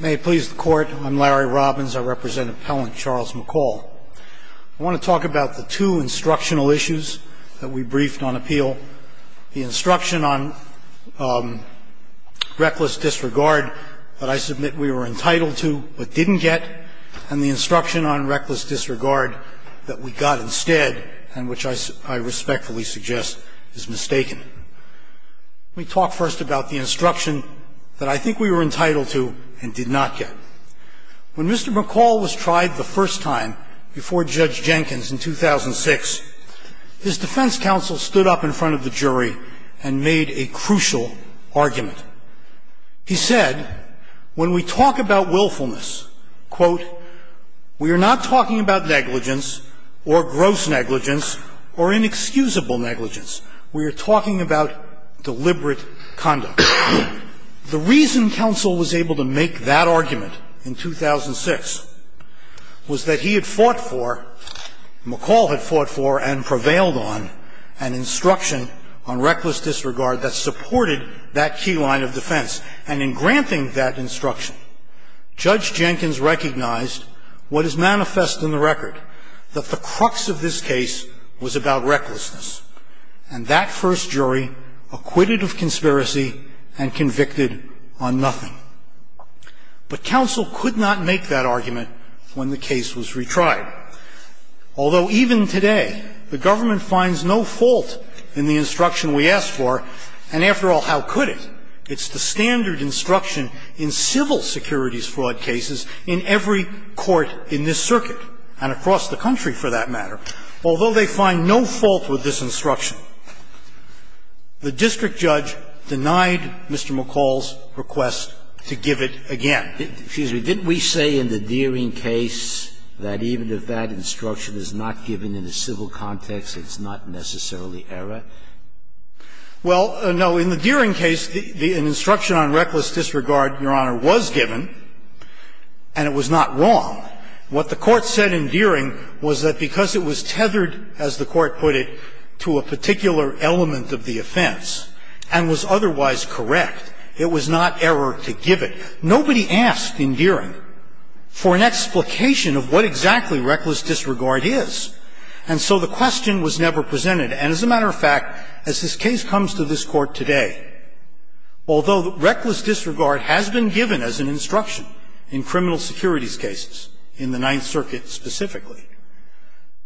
May it please the Court, I'm Larry Robbins. I represent Appellant Charles McCall. I want to talk about the two instructional issues that we briefed on appeal. The instruction on reckless disregard that I submit we were entitled to but didn't get, and the instruction on reckless disregard that we got instead and which I respectfully suggest is mistaken. Let me talk first about the instruction that I think we were entitled to and did not get. When Mr. McCall was tried the first time before Judge Jenkins in 2006, his defense counsel stood up in front of the jury and made a crucial argument. He said, when we talk about willfulness, quote, we are not talking about negligence or gross negligence or inexcusable negligence. We are talking about deliberate conduct. The reason counsel was able to make that argument in 2006 was that he had fought for, McCall had fought for and prevailed on, an instruction on reckless disregard that supported that key line of defense. And in granting that instruction, Judge Jenkins recognized what is manifest in the record, that the crux of this case was about recklessness. And that first jury acquitted of conspiracy and convicted on nothing. But counsel could not make that argument when the case was retried. Although even today the government finds no fault in the instruction we asked for, and after all, how could it? It's the standard instruction in civil securities fraud cases in every court in this circuit and across the country, for that matter. Although they find no fault with this instruction, the district judge denied Mr. McCall's request to give it again. Scalia. Excuse me. Didn't we say in the Deering case that even if that instruction is not given in a civil context, it's not necessarily error? Well, no. In the Deering case, an instruction on reckless disregard, Your Honor, was given. And it was not wrong. What the Court said in Deering was that because it was tethered, as the Court put it, to a particular element of the offense and was otherwise correct, it was not error to give it. Nobody asked in Deering for an explication of what exactly reckless disregard is. And so the question was never presented. And as a matter of fact, as this case comes to this Court today, although reckless disregard has been given as an instruction in criminal securities cases, in the Ninth Circuit specifically,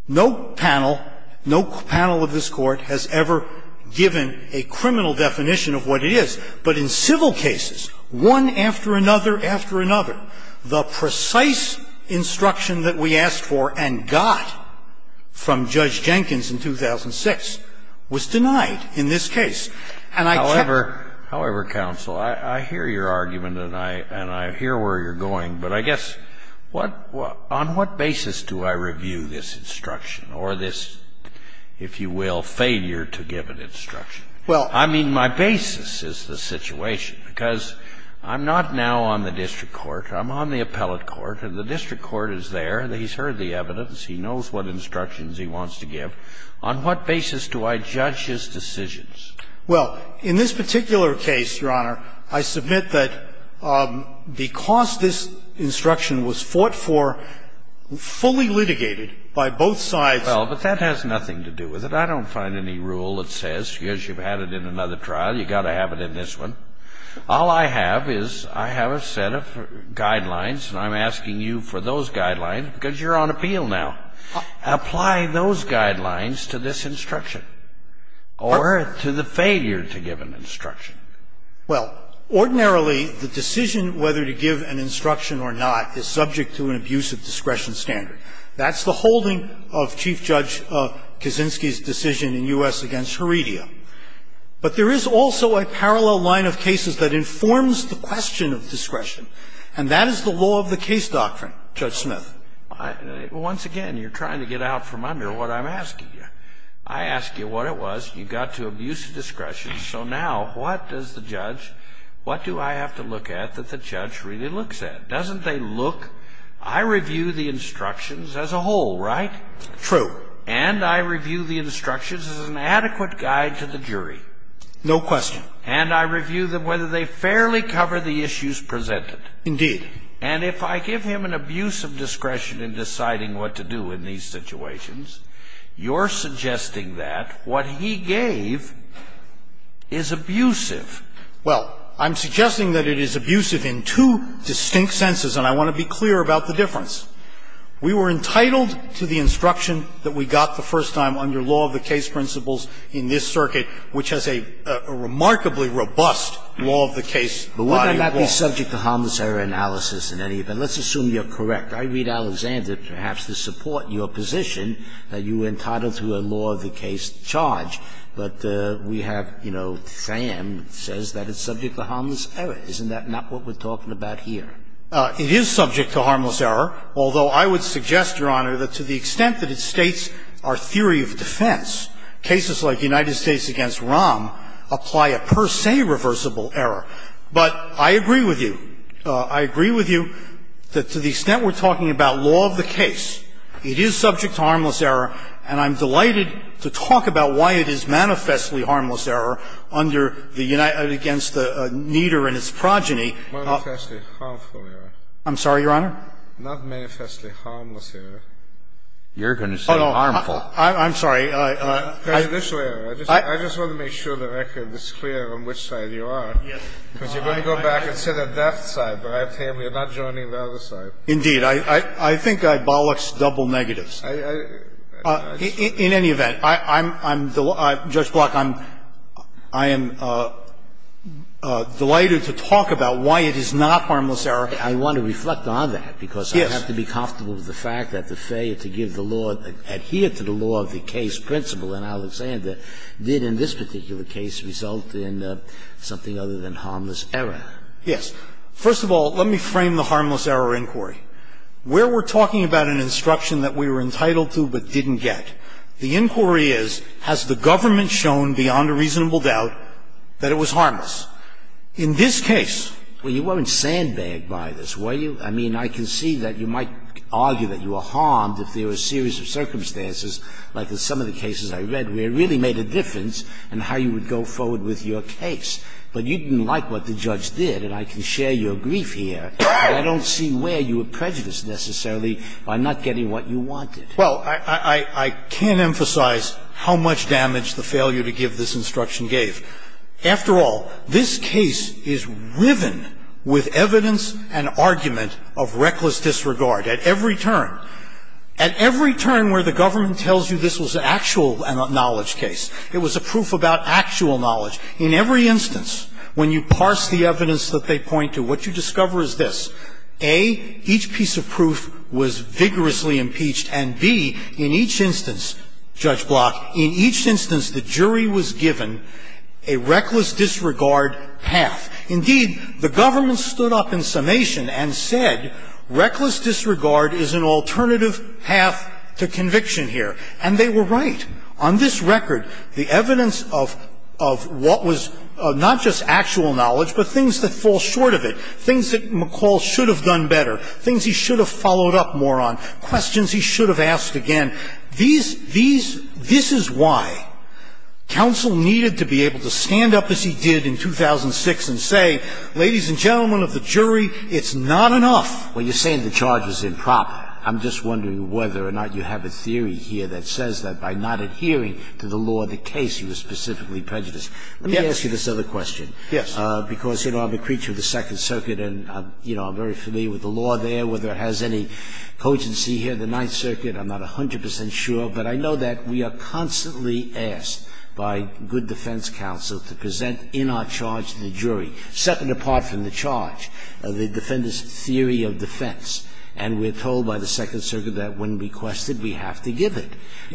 no panel, no panel of this Court has ever given a criminal definition of what it is. But in civil cases, one after another after another, the precise instruction that we asked for and got from Judge Jenkins in 2006 was denied in this case. And I can't believe it. However, counsel, I hear your argument, and I hear where you're going. But I guess, on what basis do I review this instruction or this, if you will, failure to give an instruction? I mean, my basis is the situation, because I'm not now on the district court. I'm on the appellate court. The district court is there. He's heard the evidence. He knows what instructions he wants to give. On what basis do I judge his decisions? Well, in this particular case, Your Honor, I submit that because this instruction was fought for, fully litigated by both sides. Well, but that has nothing to do with it. I don't find any rule that says, yes, you've had it in another trial. You've got to have it in this one. All I have is I have a set of guidelines, and I'm asking you for those guidelines, because you're on appeal now. Apply those guidelines to this instruction or to the failure to give an instruction. Well, ordinarily, the decision whether to give an instruction or not is subject to an abuse of discretion standard. That's the holding of Chief Judge Kaczynski's decision in U.S. against Heredia. But there is also a parallel line of cases that informs the question of discretion, and that is the law of the case doctrine, Judge Smith. Once again, you're trying to get out from under what I'm asking you. I asked you what it was. You got to abuse of discretion. So now, what does the judge – what do I have to look at that the judge really looks at? Doesn't they look – I review the instructions as a whole, right? True. And I review the instructions as an adequate guide to the jury. No question. And I review them whether they fairly cover the issues presented. Indeed. And if I give him an abuse of discretion in deciding what to do in these situations, you're suggesting that what he gave is abusive. Well, I'm suggesting that it is abusive in two distinct senses, and I want to be clear about the difference. We were entitled to the instruction that we got the first time under law of the case principles in this circuit, which has a remarkably robust law of the case body of law. But would that not be subject to harmless error analysis in any event? Let's assume you're correct. I read Alexander, perhaps, to support your position that you were entitled to a law of the case charge. But we have, you know, Sam says that it's subject to harmless error. Isn't that not what we're talking about here? It is subject to harmless error. Although, I would suggest, Your Honor, that to the extent that it states our theory of defense, cases like United States v. Rahm apply a per se reversible error. But I agree with you. I agree with you that to the extent we're talking about law of the case, it is subject to harmless error, and I'm delighted to talk about why it is manifestly harmless error under the United States v. Nieder and its progeny. I'm sorry, Your Honor? Not manifestly harmless error. You're going to say harmful. I'm sorry. I just want to make sure the record is clear on which side you are. Yes. Because you're going to go back and say that's the side, but I have to tell you, you're not joining the other side. Indeed. I think I bollocks double negatives. In any event, I'm the law of the case. Judge Block, I am delighted to talk about why it is not harmless error. I want to reflect on that, because I have to be comfortable with the fact that the failure to give the law, adhere to the law of the case principle in Alexander did in this particular case result in something other than harmless error. Yes. First of all, let me frame the harmless error inquiry. Where we're talking about an instruction that we were entitled to but didn't get, the inquiry is, has the government shown beyond a reasonable doubt that it was harmless? In this case we weren't sandbagged by it. I mean, I can see that you might argue that you were harmed if there were a series of circumstances, like in some of the cases I read, where it really made a difference in how you would go forward with your case. But you didn't like what the judge did, and I can share your grief here. I don't see where you were prejudiced, necessarily, by not getting what you wanted. Well, I can't emphasize how much damage the failure to give this instruction gave. After all, this case is riven with evidence and argument of reckless disregard. At every turn, at every turn where the government tells you this was an actual knowledge case, it was a proof about actual knowledge, in every instance, when you parse the evidence that they point to, what you discover is this. A, each piece of proof was vigorously impeached. And B, in each instance, Judge Block, in each instance the jury was given a reckless disregard half. Indeed, the government stood up in summation and said reckless disregard is an alternative half to conviction here. And they were right. On this record, the evidence of what was not just actual knowledge, but things that fall short of it. Things that McCall should have done better. Things he should have followed up more on. Questions he should have asked again. These, these, this is why counsel needed to be able to stand up as he did in 2006 and say, ladies and gentlemen of the jury, it's not enough. When you're saying the charge was improper, I'm just wondering whether or not you have a theory here that says that by not adhering to the law of the case, he was specifically prejudiced. Let me ask you this other question. Yes. Because, you know, I'm a creature of the Second Circuit and, you know, I'm very familiar with the law there, whether it has any cogency here. I'm not 100% sure, but I know that we are constantly asked by good defense counsel to present in our charge to the jury, second apart from the charge, the defender's theory of defense. And we're told by the Second Circuit that when requested, we have to give it.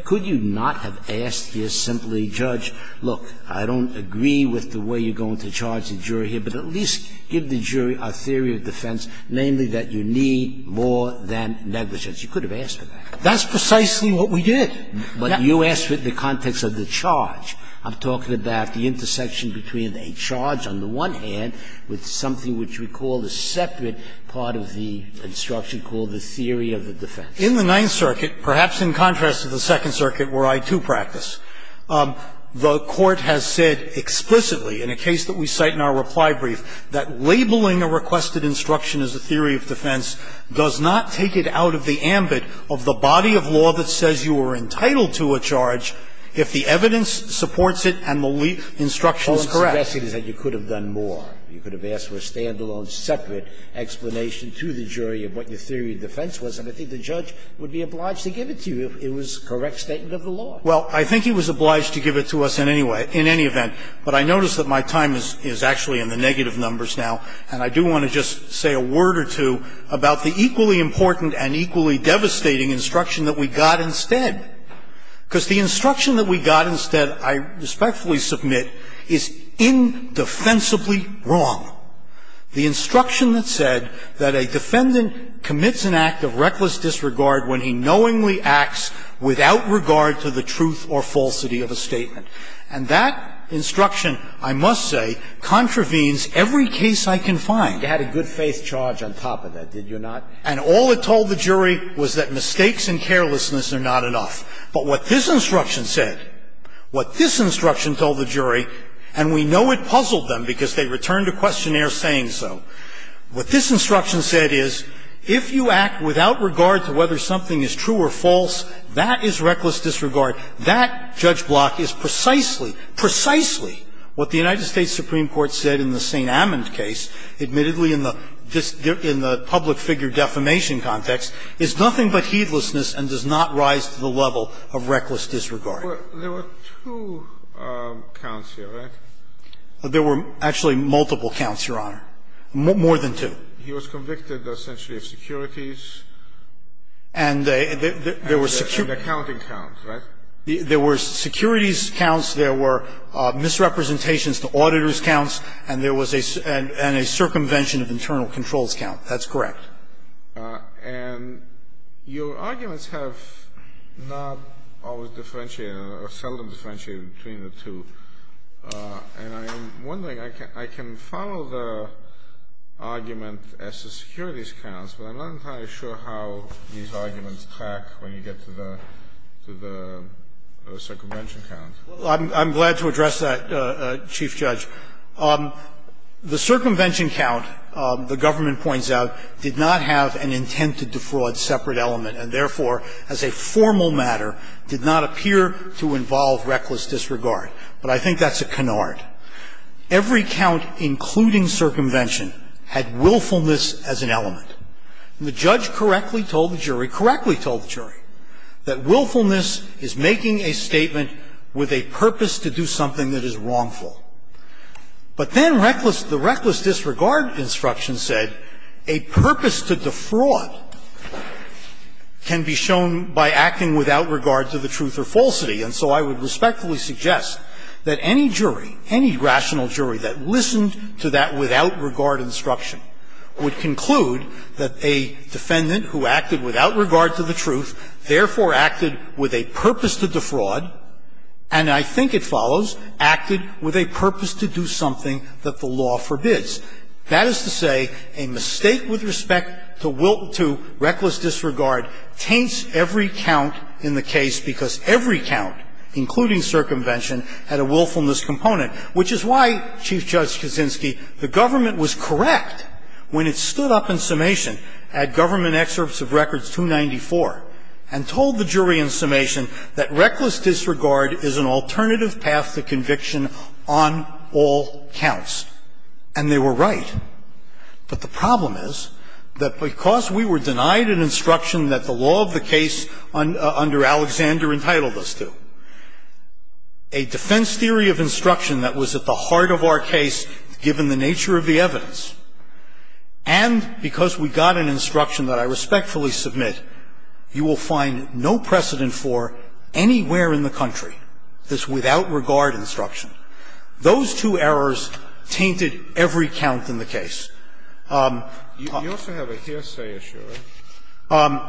Could you not have asked here simply, judge, look, I don't agree with the way you're going to charge the jury here, but at least give the jury a theory of defense, namely that you need more than negligence. You could have asked for that. That's precisely what we did. But you asked for it in the context of the charge. I'm talking about the intersection between a charge on the one hand with something which we call a separate part of the instruction called the theory of the defense. In the Ninth Circuit, perhaps in contrast to the Second Circuit where I, too, practice, the Court has said explicitly in a case that we cite in our reply brief that labeling a requested instruction as a theory of defense does not take it out of the ambit of the body of law that says you are entitled to a charge if the evidence supports it and the instruction is correct. Scalia. All I'm suggesting is that you could have done more. You could have asked for a stand-alone, separate explanation to the jury of what your theory of defense was, and I think the judge would be obliged to give it to you if it was a correct statement of the law. Carvin. Well, I think he was obliged to give it to us in any way, in any event. But I notice that my time is actually in the negative numbers now, and I do want to just say a word or two about the equally important and equally devastating instruction that we got instead, because the instruction that we got instead, I respectfully submit, is indefensibly wrong. The instruction that said that a defendant commits an act of reckless disregard when he knowingly acts without regard to the truth or falsity of a statement. And that instruction, I must say, contravenes every case I can find. Scalia. You had a good-faith charge on top of that, did you not? Carvin. And all it told the jury was that mistakes and carelessness are not enough. But what this instruction said, what this instruction told the jury, and we know it puzzled them because they returned a questionnaire saying so, what this instruction said is if you act without regard to whether something is true or false, that is reckless disregard. That, Judge Block, is precisely, precisely what the United States Supreme Court said in the St. Amand case, admittedly in the public figure defamation context, is nothing but heedlessness and does not rise to the level of reckless disregard. There were two counts here, right? There were actually multiple counts, Your Honor. More than two. He was convicted essentially of securities. And there were securities. And accounting counts, right? There were securities counts. There were misrepresentations to auditor's counts. And there was a circumvention of internal controls count. That's correct. And your arguments have not always differentiated or seldom differentiated between the two. And I'm wondering, I can follow the argument as to securities counts, but I'm not entirely sure how these arguments crack when you get to the circumvention count. Well, I'm glad to address that, Chief Judge. The circumvention count, the government points out, did not have an intent to defraud separate element, and therefore, as a formal matter, did not appear to involve reckless disregard. But I think that's a canard. And the judge correctly told the jury, correctly told the jury, that willfulness is making a statement with a purpose to do something that is wrongful. But then the reckless disregard instruction said a purpose to defraud can be shown by acting without regard to the truth or falsity. And so I would respectfully suggest that any jury, any rational jury that listened to that without regard instruction, would conclude that a defendant who acted without regard to the truth, therefore acted with a purpose to defraud, and I think it follows, acted with a purpose to do something that the law forbids. That is to say, a mistake with respect to reckless disregard taints every count in the case, because every count, including circumvention, had a willfulness component, which is why, Chief Judge Kuczynski, the government was correct when it stood up in summation at Government Excerpts of Records 294 and told the jury in summation that reckless disregard is an alternative path to conviction on all counts. And they were right. But the problem is that because we were denied an instruction that the law of the case, given the nature of the evidence, and because we got an instruction that I respectfully submit, you will find no precedent for anywhere in the country this without regard instruction. Those two errors tainted every count in the case. You also have a hearsay issue, right?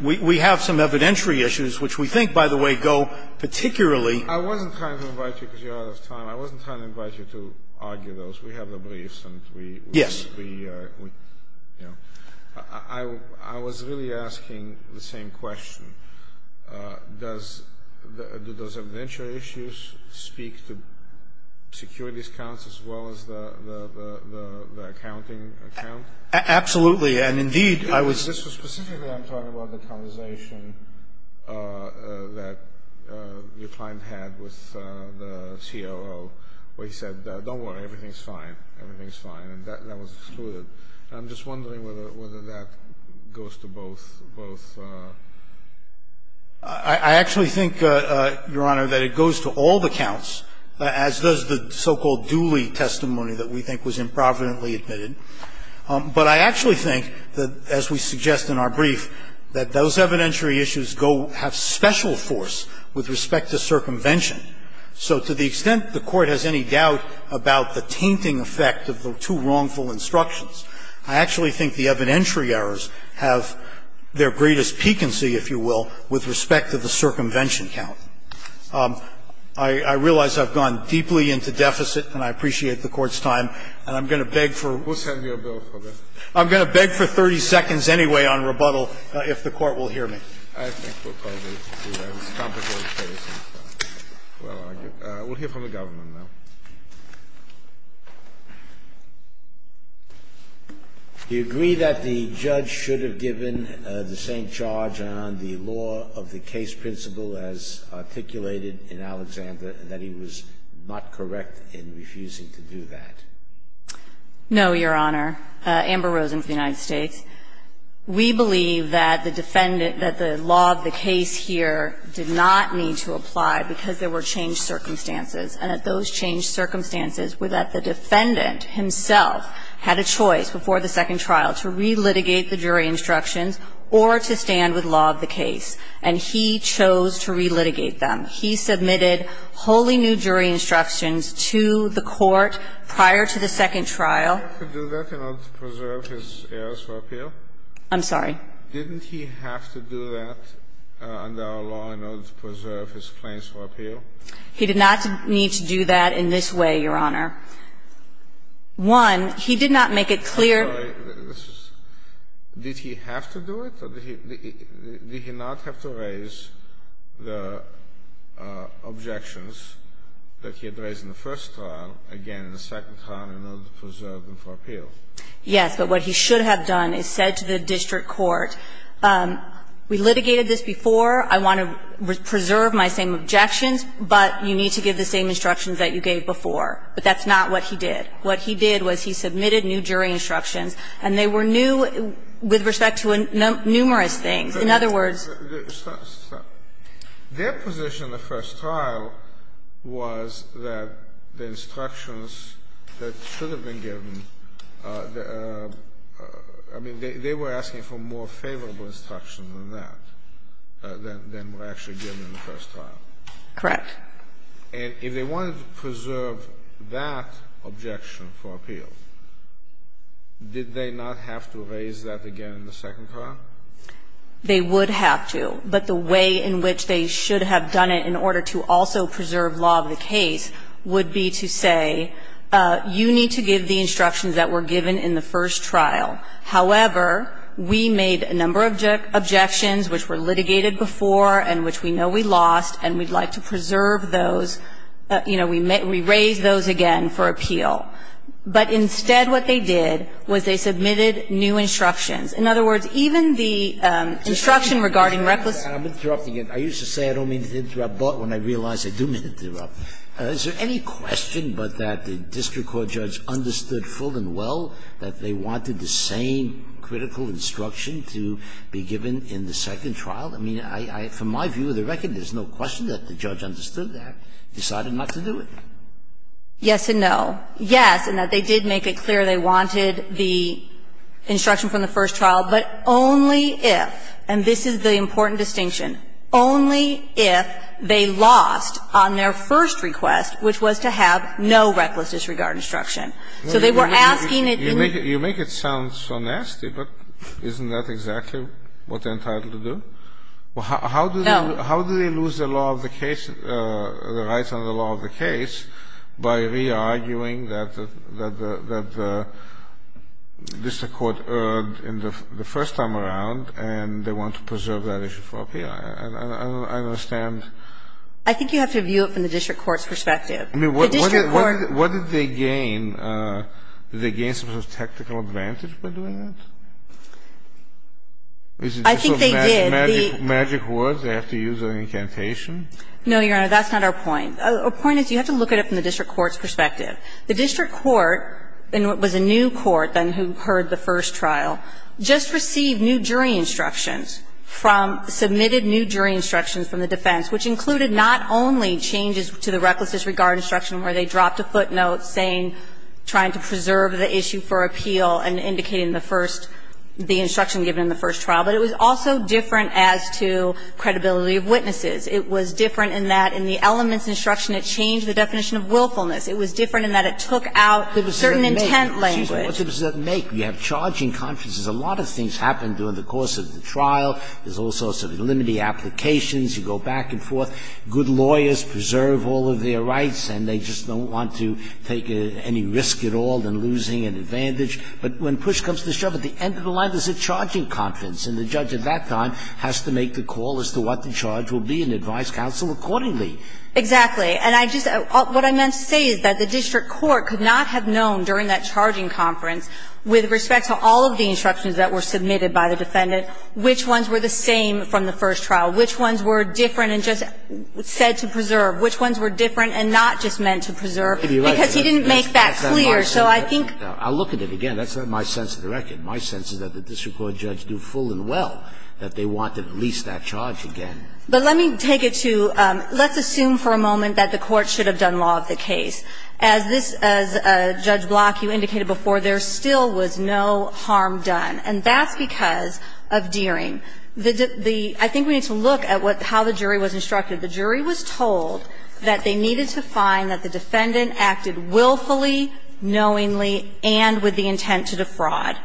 We have some evidentiary issues, which we think, by the way, go particularly I wasn't trying to invite you because you're out of time. I wasn't trying to invite you to argue those. We have the briefs, and we Yes. I was really asking the same question. Does evidentiary issues speak to securities counts as well as the accounting count? Absolutely, and indeed Specifically, I'm talking about the conversation that your client had with the COO, where he said, don't worry. Everything's fine. Everything's fine. And that was excluded. I'm just wondering whether that goes to both. I actually think, Your Honor, that it goes to all the counts, as does the so-called dually testimony that we think was improvidently admitted. But I actually think that, as we suggest in our brief, that those evidentiary issues have special force with respect to circumvention. So to the extent the Court has any doubt about the tainting effect of the two wrongful instructions, I actually think the evidentiary errors have their greatest piquancy, if you will, with respect to the circumvention count. I realize I've gone deeply into deficit, and I appreciate the Court's time. And I'm going to beg for... We'll send you a bill for that. I'm going to beg for 30 seconds anyway on rebuttal, if the Court will hear me. I think we'll probably do that. We'll hear from the government now. Do you agree that the judge should have given the same charge on the law of the case principle as articulated in Alexander, and that he was not correct in refusing to do that? No, Your Honor. Amber Rosen from the United States. We believe that the defendant, that the law of the case here did not need to apply because there were changed circumstances, and that those changed circumstances were that the defendant himself had a choice before the second trial to re-litigate the jury instructions or to stand with law of the case. And he chose to re-litigate them. He submitted wholly new jury instructions to the Court prior to the second trial. Did he have to do that in order to preserve his errors for appeal? I'm sorry? Didn't he have to do that under our law in order to preserve his claims for appeal? He did not need to do that in this way, Your Honor. One, he did not make it clear... Did he have to do it, or did he not have to raise the objections that he had raised in the first trial, again in the second trial in order to preserve them for appeal? Yes, but what he should have done is said to the district court, we litigated this before, I want to preserve my same objections, but you need to give the same instructions that you gave before. But that's not what he did. What he did was he submitted new jury instructions. And they were new with respect to numerous things. In other words... Stop. Stop. Their position in the first trial was that the instructions that should have been given, I mean, they were asking for more favorable instructions than that, than were actually given in the first trial. Correct. And if they wanted to preserve that objection for appeal, did they not have to raise that again in the second trial? They would have to. But the way in which they should have done it in order to also preserve law of the case would be to say, you need to give the instructions that were given in the first trial. However, we made a number of objections which were litigated before and which we know we lost and we'd like to preserve those. You know, we raised those again for appeal. But instead what they did was they submitted new instructions. In other words, even the instruction regarding reckless... I'm interrupting again. I used to say I don't mean to interrupt, but when I realize I do mean to interrupt. Is there any question but that the district court judge understood full and well that they wanted the same critical instruction to be given in the second trial? I mean, from my view of the record, there's no question that the judge understood that, decided not to do it. Yes and no. Yes, in that they did make it clear they wanted the instruction from the first trial, but only if, and this is the important distinction, only if they lost on their first request, which was to have no reckless disregard instruction. So they were asking it in... You make it sound so nasty, but isn't that exactly what they're entitled to do? No. How do they lose the law of the case, the rights under the law of the case by re-arguing that the district court erred the first time around and they want to preserve that issue for appeal? I don't understand. I think you have to view it from the district court's perspective. I mean, what did they gain? Did they gain some sort of technical advantage by doing that? I think they did. Magic words, they have to use on incantation? No, Your Honor. That's not our point. Our point is you have to look at it from the district court's perspective. The district court, and it was a new court then who heard the first trial, just received new jury instructions from, submitted new jury instructions from the defense, which included not only changes to the reckless disregard instruction where they dropped a footnote saying trying to preserve the issue for appeal and indicating the first, the instruction given in the first trial, but it was also different as to credibility of witnesses. It was different in that in the elements instruction, it changed the definition of willfulness. It was different in that it took out certain intent language. Excuse me. What difference does that make? You have charging conferences. A lot of things happen during the course of the trial. There's all sorts of limited applications. You go back and forth. Good lawyers preserve all of their rights and they just don't want to take any risk at all in losing an advantage. But when push comes to shove, at the end of the line, there's a charging conference and the judge at that time has to make the call as to what the charge will be and advise counsel accordingly. Exactly. And I just, what I meant to say is that the district court could not have known during that charging conference, with respect to all of the instructions that were submitted by the defendant, which ones were the same from the first trial, which ones were different and just said to preserve, which ones were different and not just meant to preserve, because he didn't make that clear. I'll look at it again. That's not my sense of the record. My sense is that the district court judge knew full and well that they wanted to release that charge again. But let me take it to, let's assume for a moment that the court should have done law of the case. As Judge Block, you indicated before, there still was no harm done. And that's because of Deering. I think we need to look at how the jury was instructed. The jury was told that they needed to find that the defendant acted willfully, knowingly, and with the intent to defraud.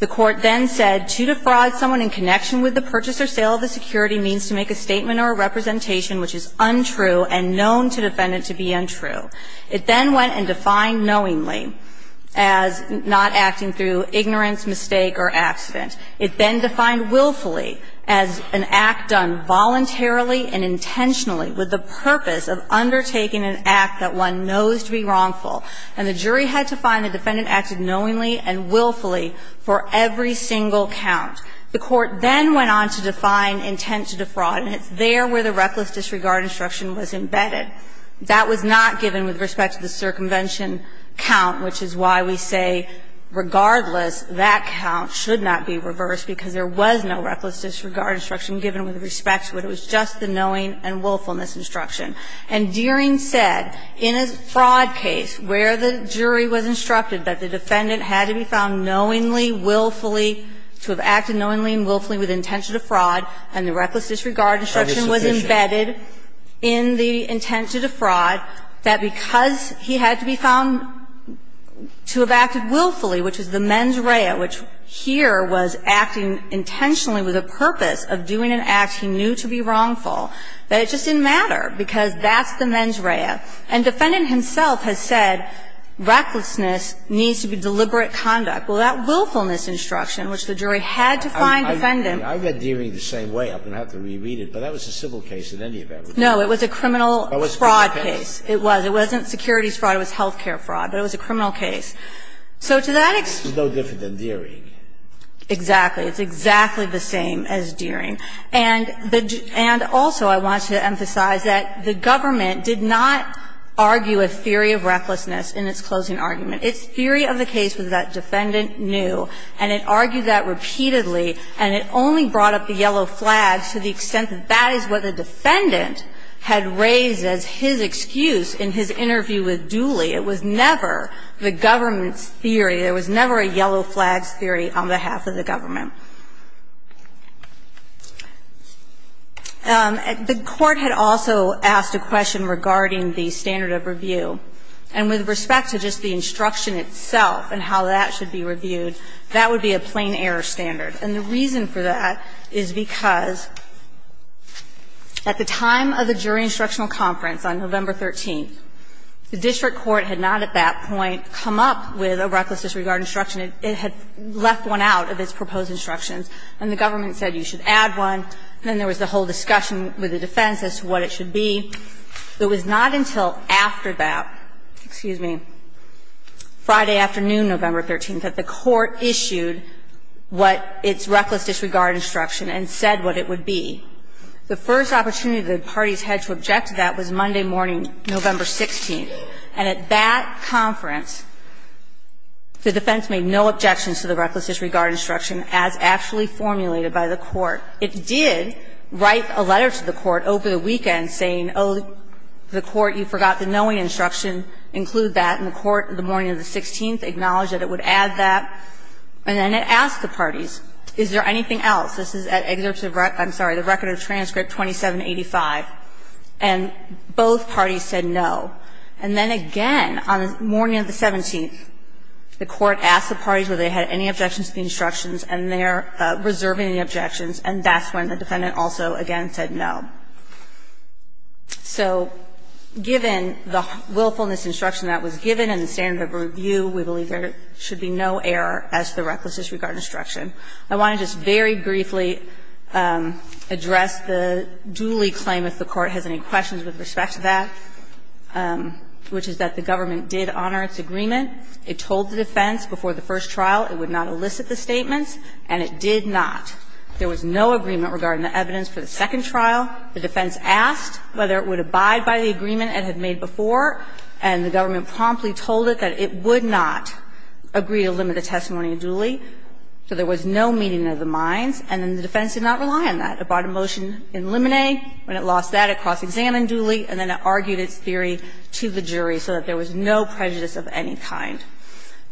The court then said, To defraud someone in connection with the purchase or sale of a security means to make a statement or a representation which is untrue and known to the defendant to be untrue. It then went and defined knowingly as not acting through ignorance, mistake, or accident. It then defined willfully as an act done voluntarily and intentionally with the purpose of undertaking an act that one knows to be wrongful. And the jury had to find the defendant acted knowingly and willfully for every single count. The court then went on to define intent to defraud, and it's there where the reckless disregard instruction was embedded. That was not given with respect to the circumvention count, which is why we say, regardless, that count should not be reversed because there was no reckless disregard instruction given with respect to it. It was just the knowing and willfulness instruction. And Deering said in a fraud case where the jury was instructed that the defendant had to be found knowingly, willfully, to have acted knowingly and willfully with intention to fraud, and the reckless disregard instruction was embedded in the intent to defraud, that because he had to be found to have acted willfully, which was the mens rea, which here was acting intentionally with a purpose of doing an act he knew to be wrongful, that it just didn't matter because that's the mens rea. And defendant himself has said recklessness needs to be deliberate conduct. Well, that willfulness instruction, which the jury had to find defendant. Scalia. I read Deering the same way. I'm going to have to reread it, but that was a civil case in any event. No, it was a criminal fraud case. It was. It wasn't securities fraud. It was health care fraud, but it was a criminal case. So to that extent. It's no different than Deering. Exactly. It's exactly the same as Deering. And also I want to emphasize that the government did not argue a theory of recklessness in its closing argument. Its theory of the case was that defendant knew, and it argued that repeatedly, and it only brought up the yellow flags to the extent that that is what the defendant had raised as his excuse in his interview with Dooley. It was never the government's theory. There was never a yellow flags theory on behalf of the government. The Court had also asked a question regarding the standard of review. And with respect to just the instruction itself and how that should be reviewed, that would be a plain error standard. And the reason for that is because at the time of the jury instructional conference on November 13th, the district court had not at that point come up with a recklessness regarding instruction. It had left one out of its proposed instructions. And the government said you should add one. Then there was the whole discussion with the defense as to what it should be. It was not until after that, excuse me, Friday afternoon, November 13th, that the Court issued what its reckless disregard instruction and said what it would be. The first opportunity the parties had to object to that was Monday morning, November 16th. And at that conference, the defense made no objections to the reckless disregard instruction as actually formulated by the Court. It did write a letter to the Court over the weekend saying, oh, the Court, you forgot the knowing instruction. Include that. And the Court, the morning of the 16th, acknowledged that it would add that. And then it asked the parties, is there anything else? This is at excerpt of, I'm sorry, the record of transcript 2785. And both parties said no. And then again, on the morning of the 17th, the Court asked the parties whether they had any objections to the instructions, and they're reserving the objections. And that's when the defendant also again said no. So given the willfulness instruction that was given and the standard of review, we believe there should be no error as to the reckless disregard instruction. I want to just very briefly address the duly claim, if the Court has any questions with respect to that. Which is that the government did honor its agreement. It told the defense before the first trial it would not elicit the statements, and it did not. There was no agreement regarding the evidence for the second trial. The defense asked whether it would abide by the agreement it had made before. And the government promptly told it that it would not agree to limit the testimony duly. So there was no meeting of the minds. And then the defense did not rely on that. It brought a motion in limine. When it lost that, it cross-examined duly. And then it argued its theory to the jury so that there was no prejudice of any kind.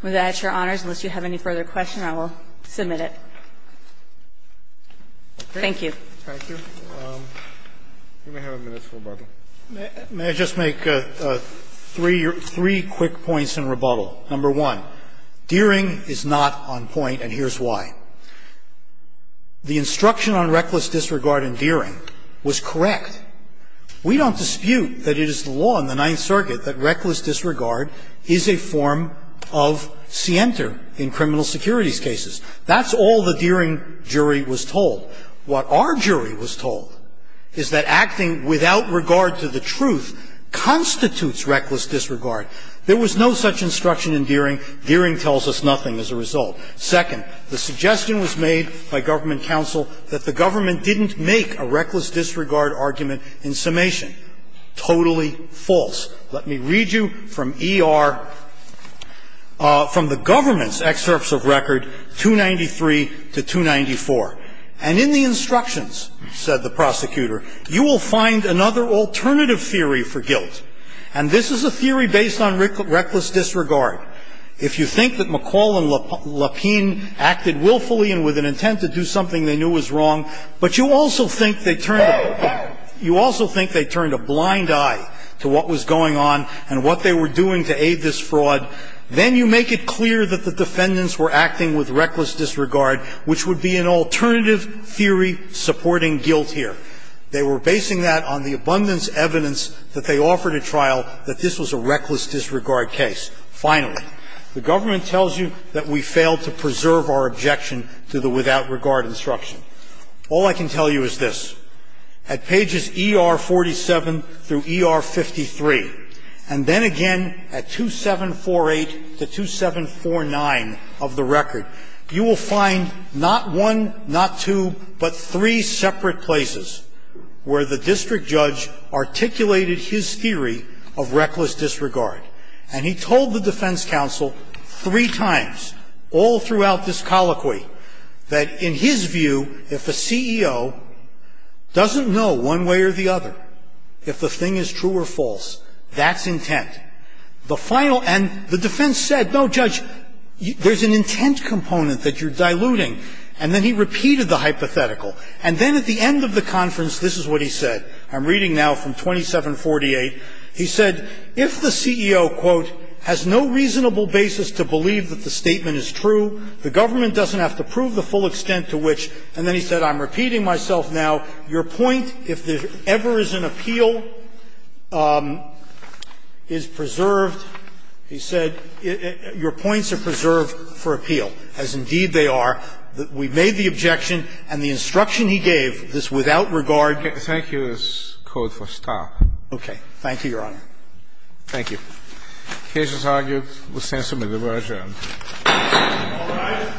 With that, Your Honors, unless you have any further questions, I will submit it. Thank you. Thank you. You may have a minute for rebuttal. May I just make three quick points in rebuttal? Number one, Deering is not on point, and here's why. The instruction on reckless disregard in Deering was correct. We don't dispute that it is the law in the Ninth Circuit that reckless disregard is a form of scienter in criminal securities cases. That's all the Deering jury was told. What our jury was told is that acting without regard to the truth constitutes reckless disregard. There was no such instruction in Deering. Deering tells us nothing as a result. Second, the suggestion was made by government counsel that the government didn't make a reckless disregard argument in summation. Totally false. Let me read you from ER, from the government's excerpts of record 293 to 294. And in the instructions, said the prosecutor, you will find another alternative theory for guilt. And this is a theory based on reckless disregard. If you think that McCall and Lapine acted willfully and with an intent to do something they knew was wrong, but you also think they turned a blind eye to what was going on and what they were doing to aid this fraud, then you make it clear that the defendants were acting with reckless disregard, which would be an alternative theory supporting guilt here. They were basing that on the abundance of evidence that they offered at trial that this was a reckless disregard case. Finally, the government tells you that we failed to preserve our objection to the disregard instruction. All I can tell you is this. At pages ER47 through ER53, and then again at 2748 to 2749 of the record, you will find not one, not two, but three separate places where the district judge articulated his theory of reckless disregard. And he told the defense counsel three times all throughout this colloquy that in his view, if a CEO doesn't know one way or the other if the thing is true or false, that's intent. And the defense said, no, judge, there's an intent component that you're diluting. And then he repeated the hypothetical. And then at the end of the conference, this is what he said. I'm reading now from 2748. He said, if the CEO, quote, has no reasonable basis to believe that the statement is true, the government doesn't have to prove the full extent to which, and then he said, I'm repeating myself now, your point, if there ever is an appeal, is preserved, he said, your points are preserved for appeal, as indeed they are. We made the objection, and the instruction he gave, this without regard. Thank you is code for stop. Okay. Thank you, Your Honor. Thank you. The case is argued. The sentence is adjourned. All rise.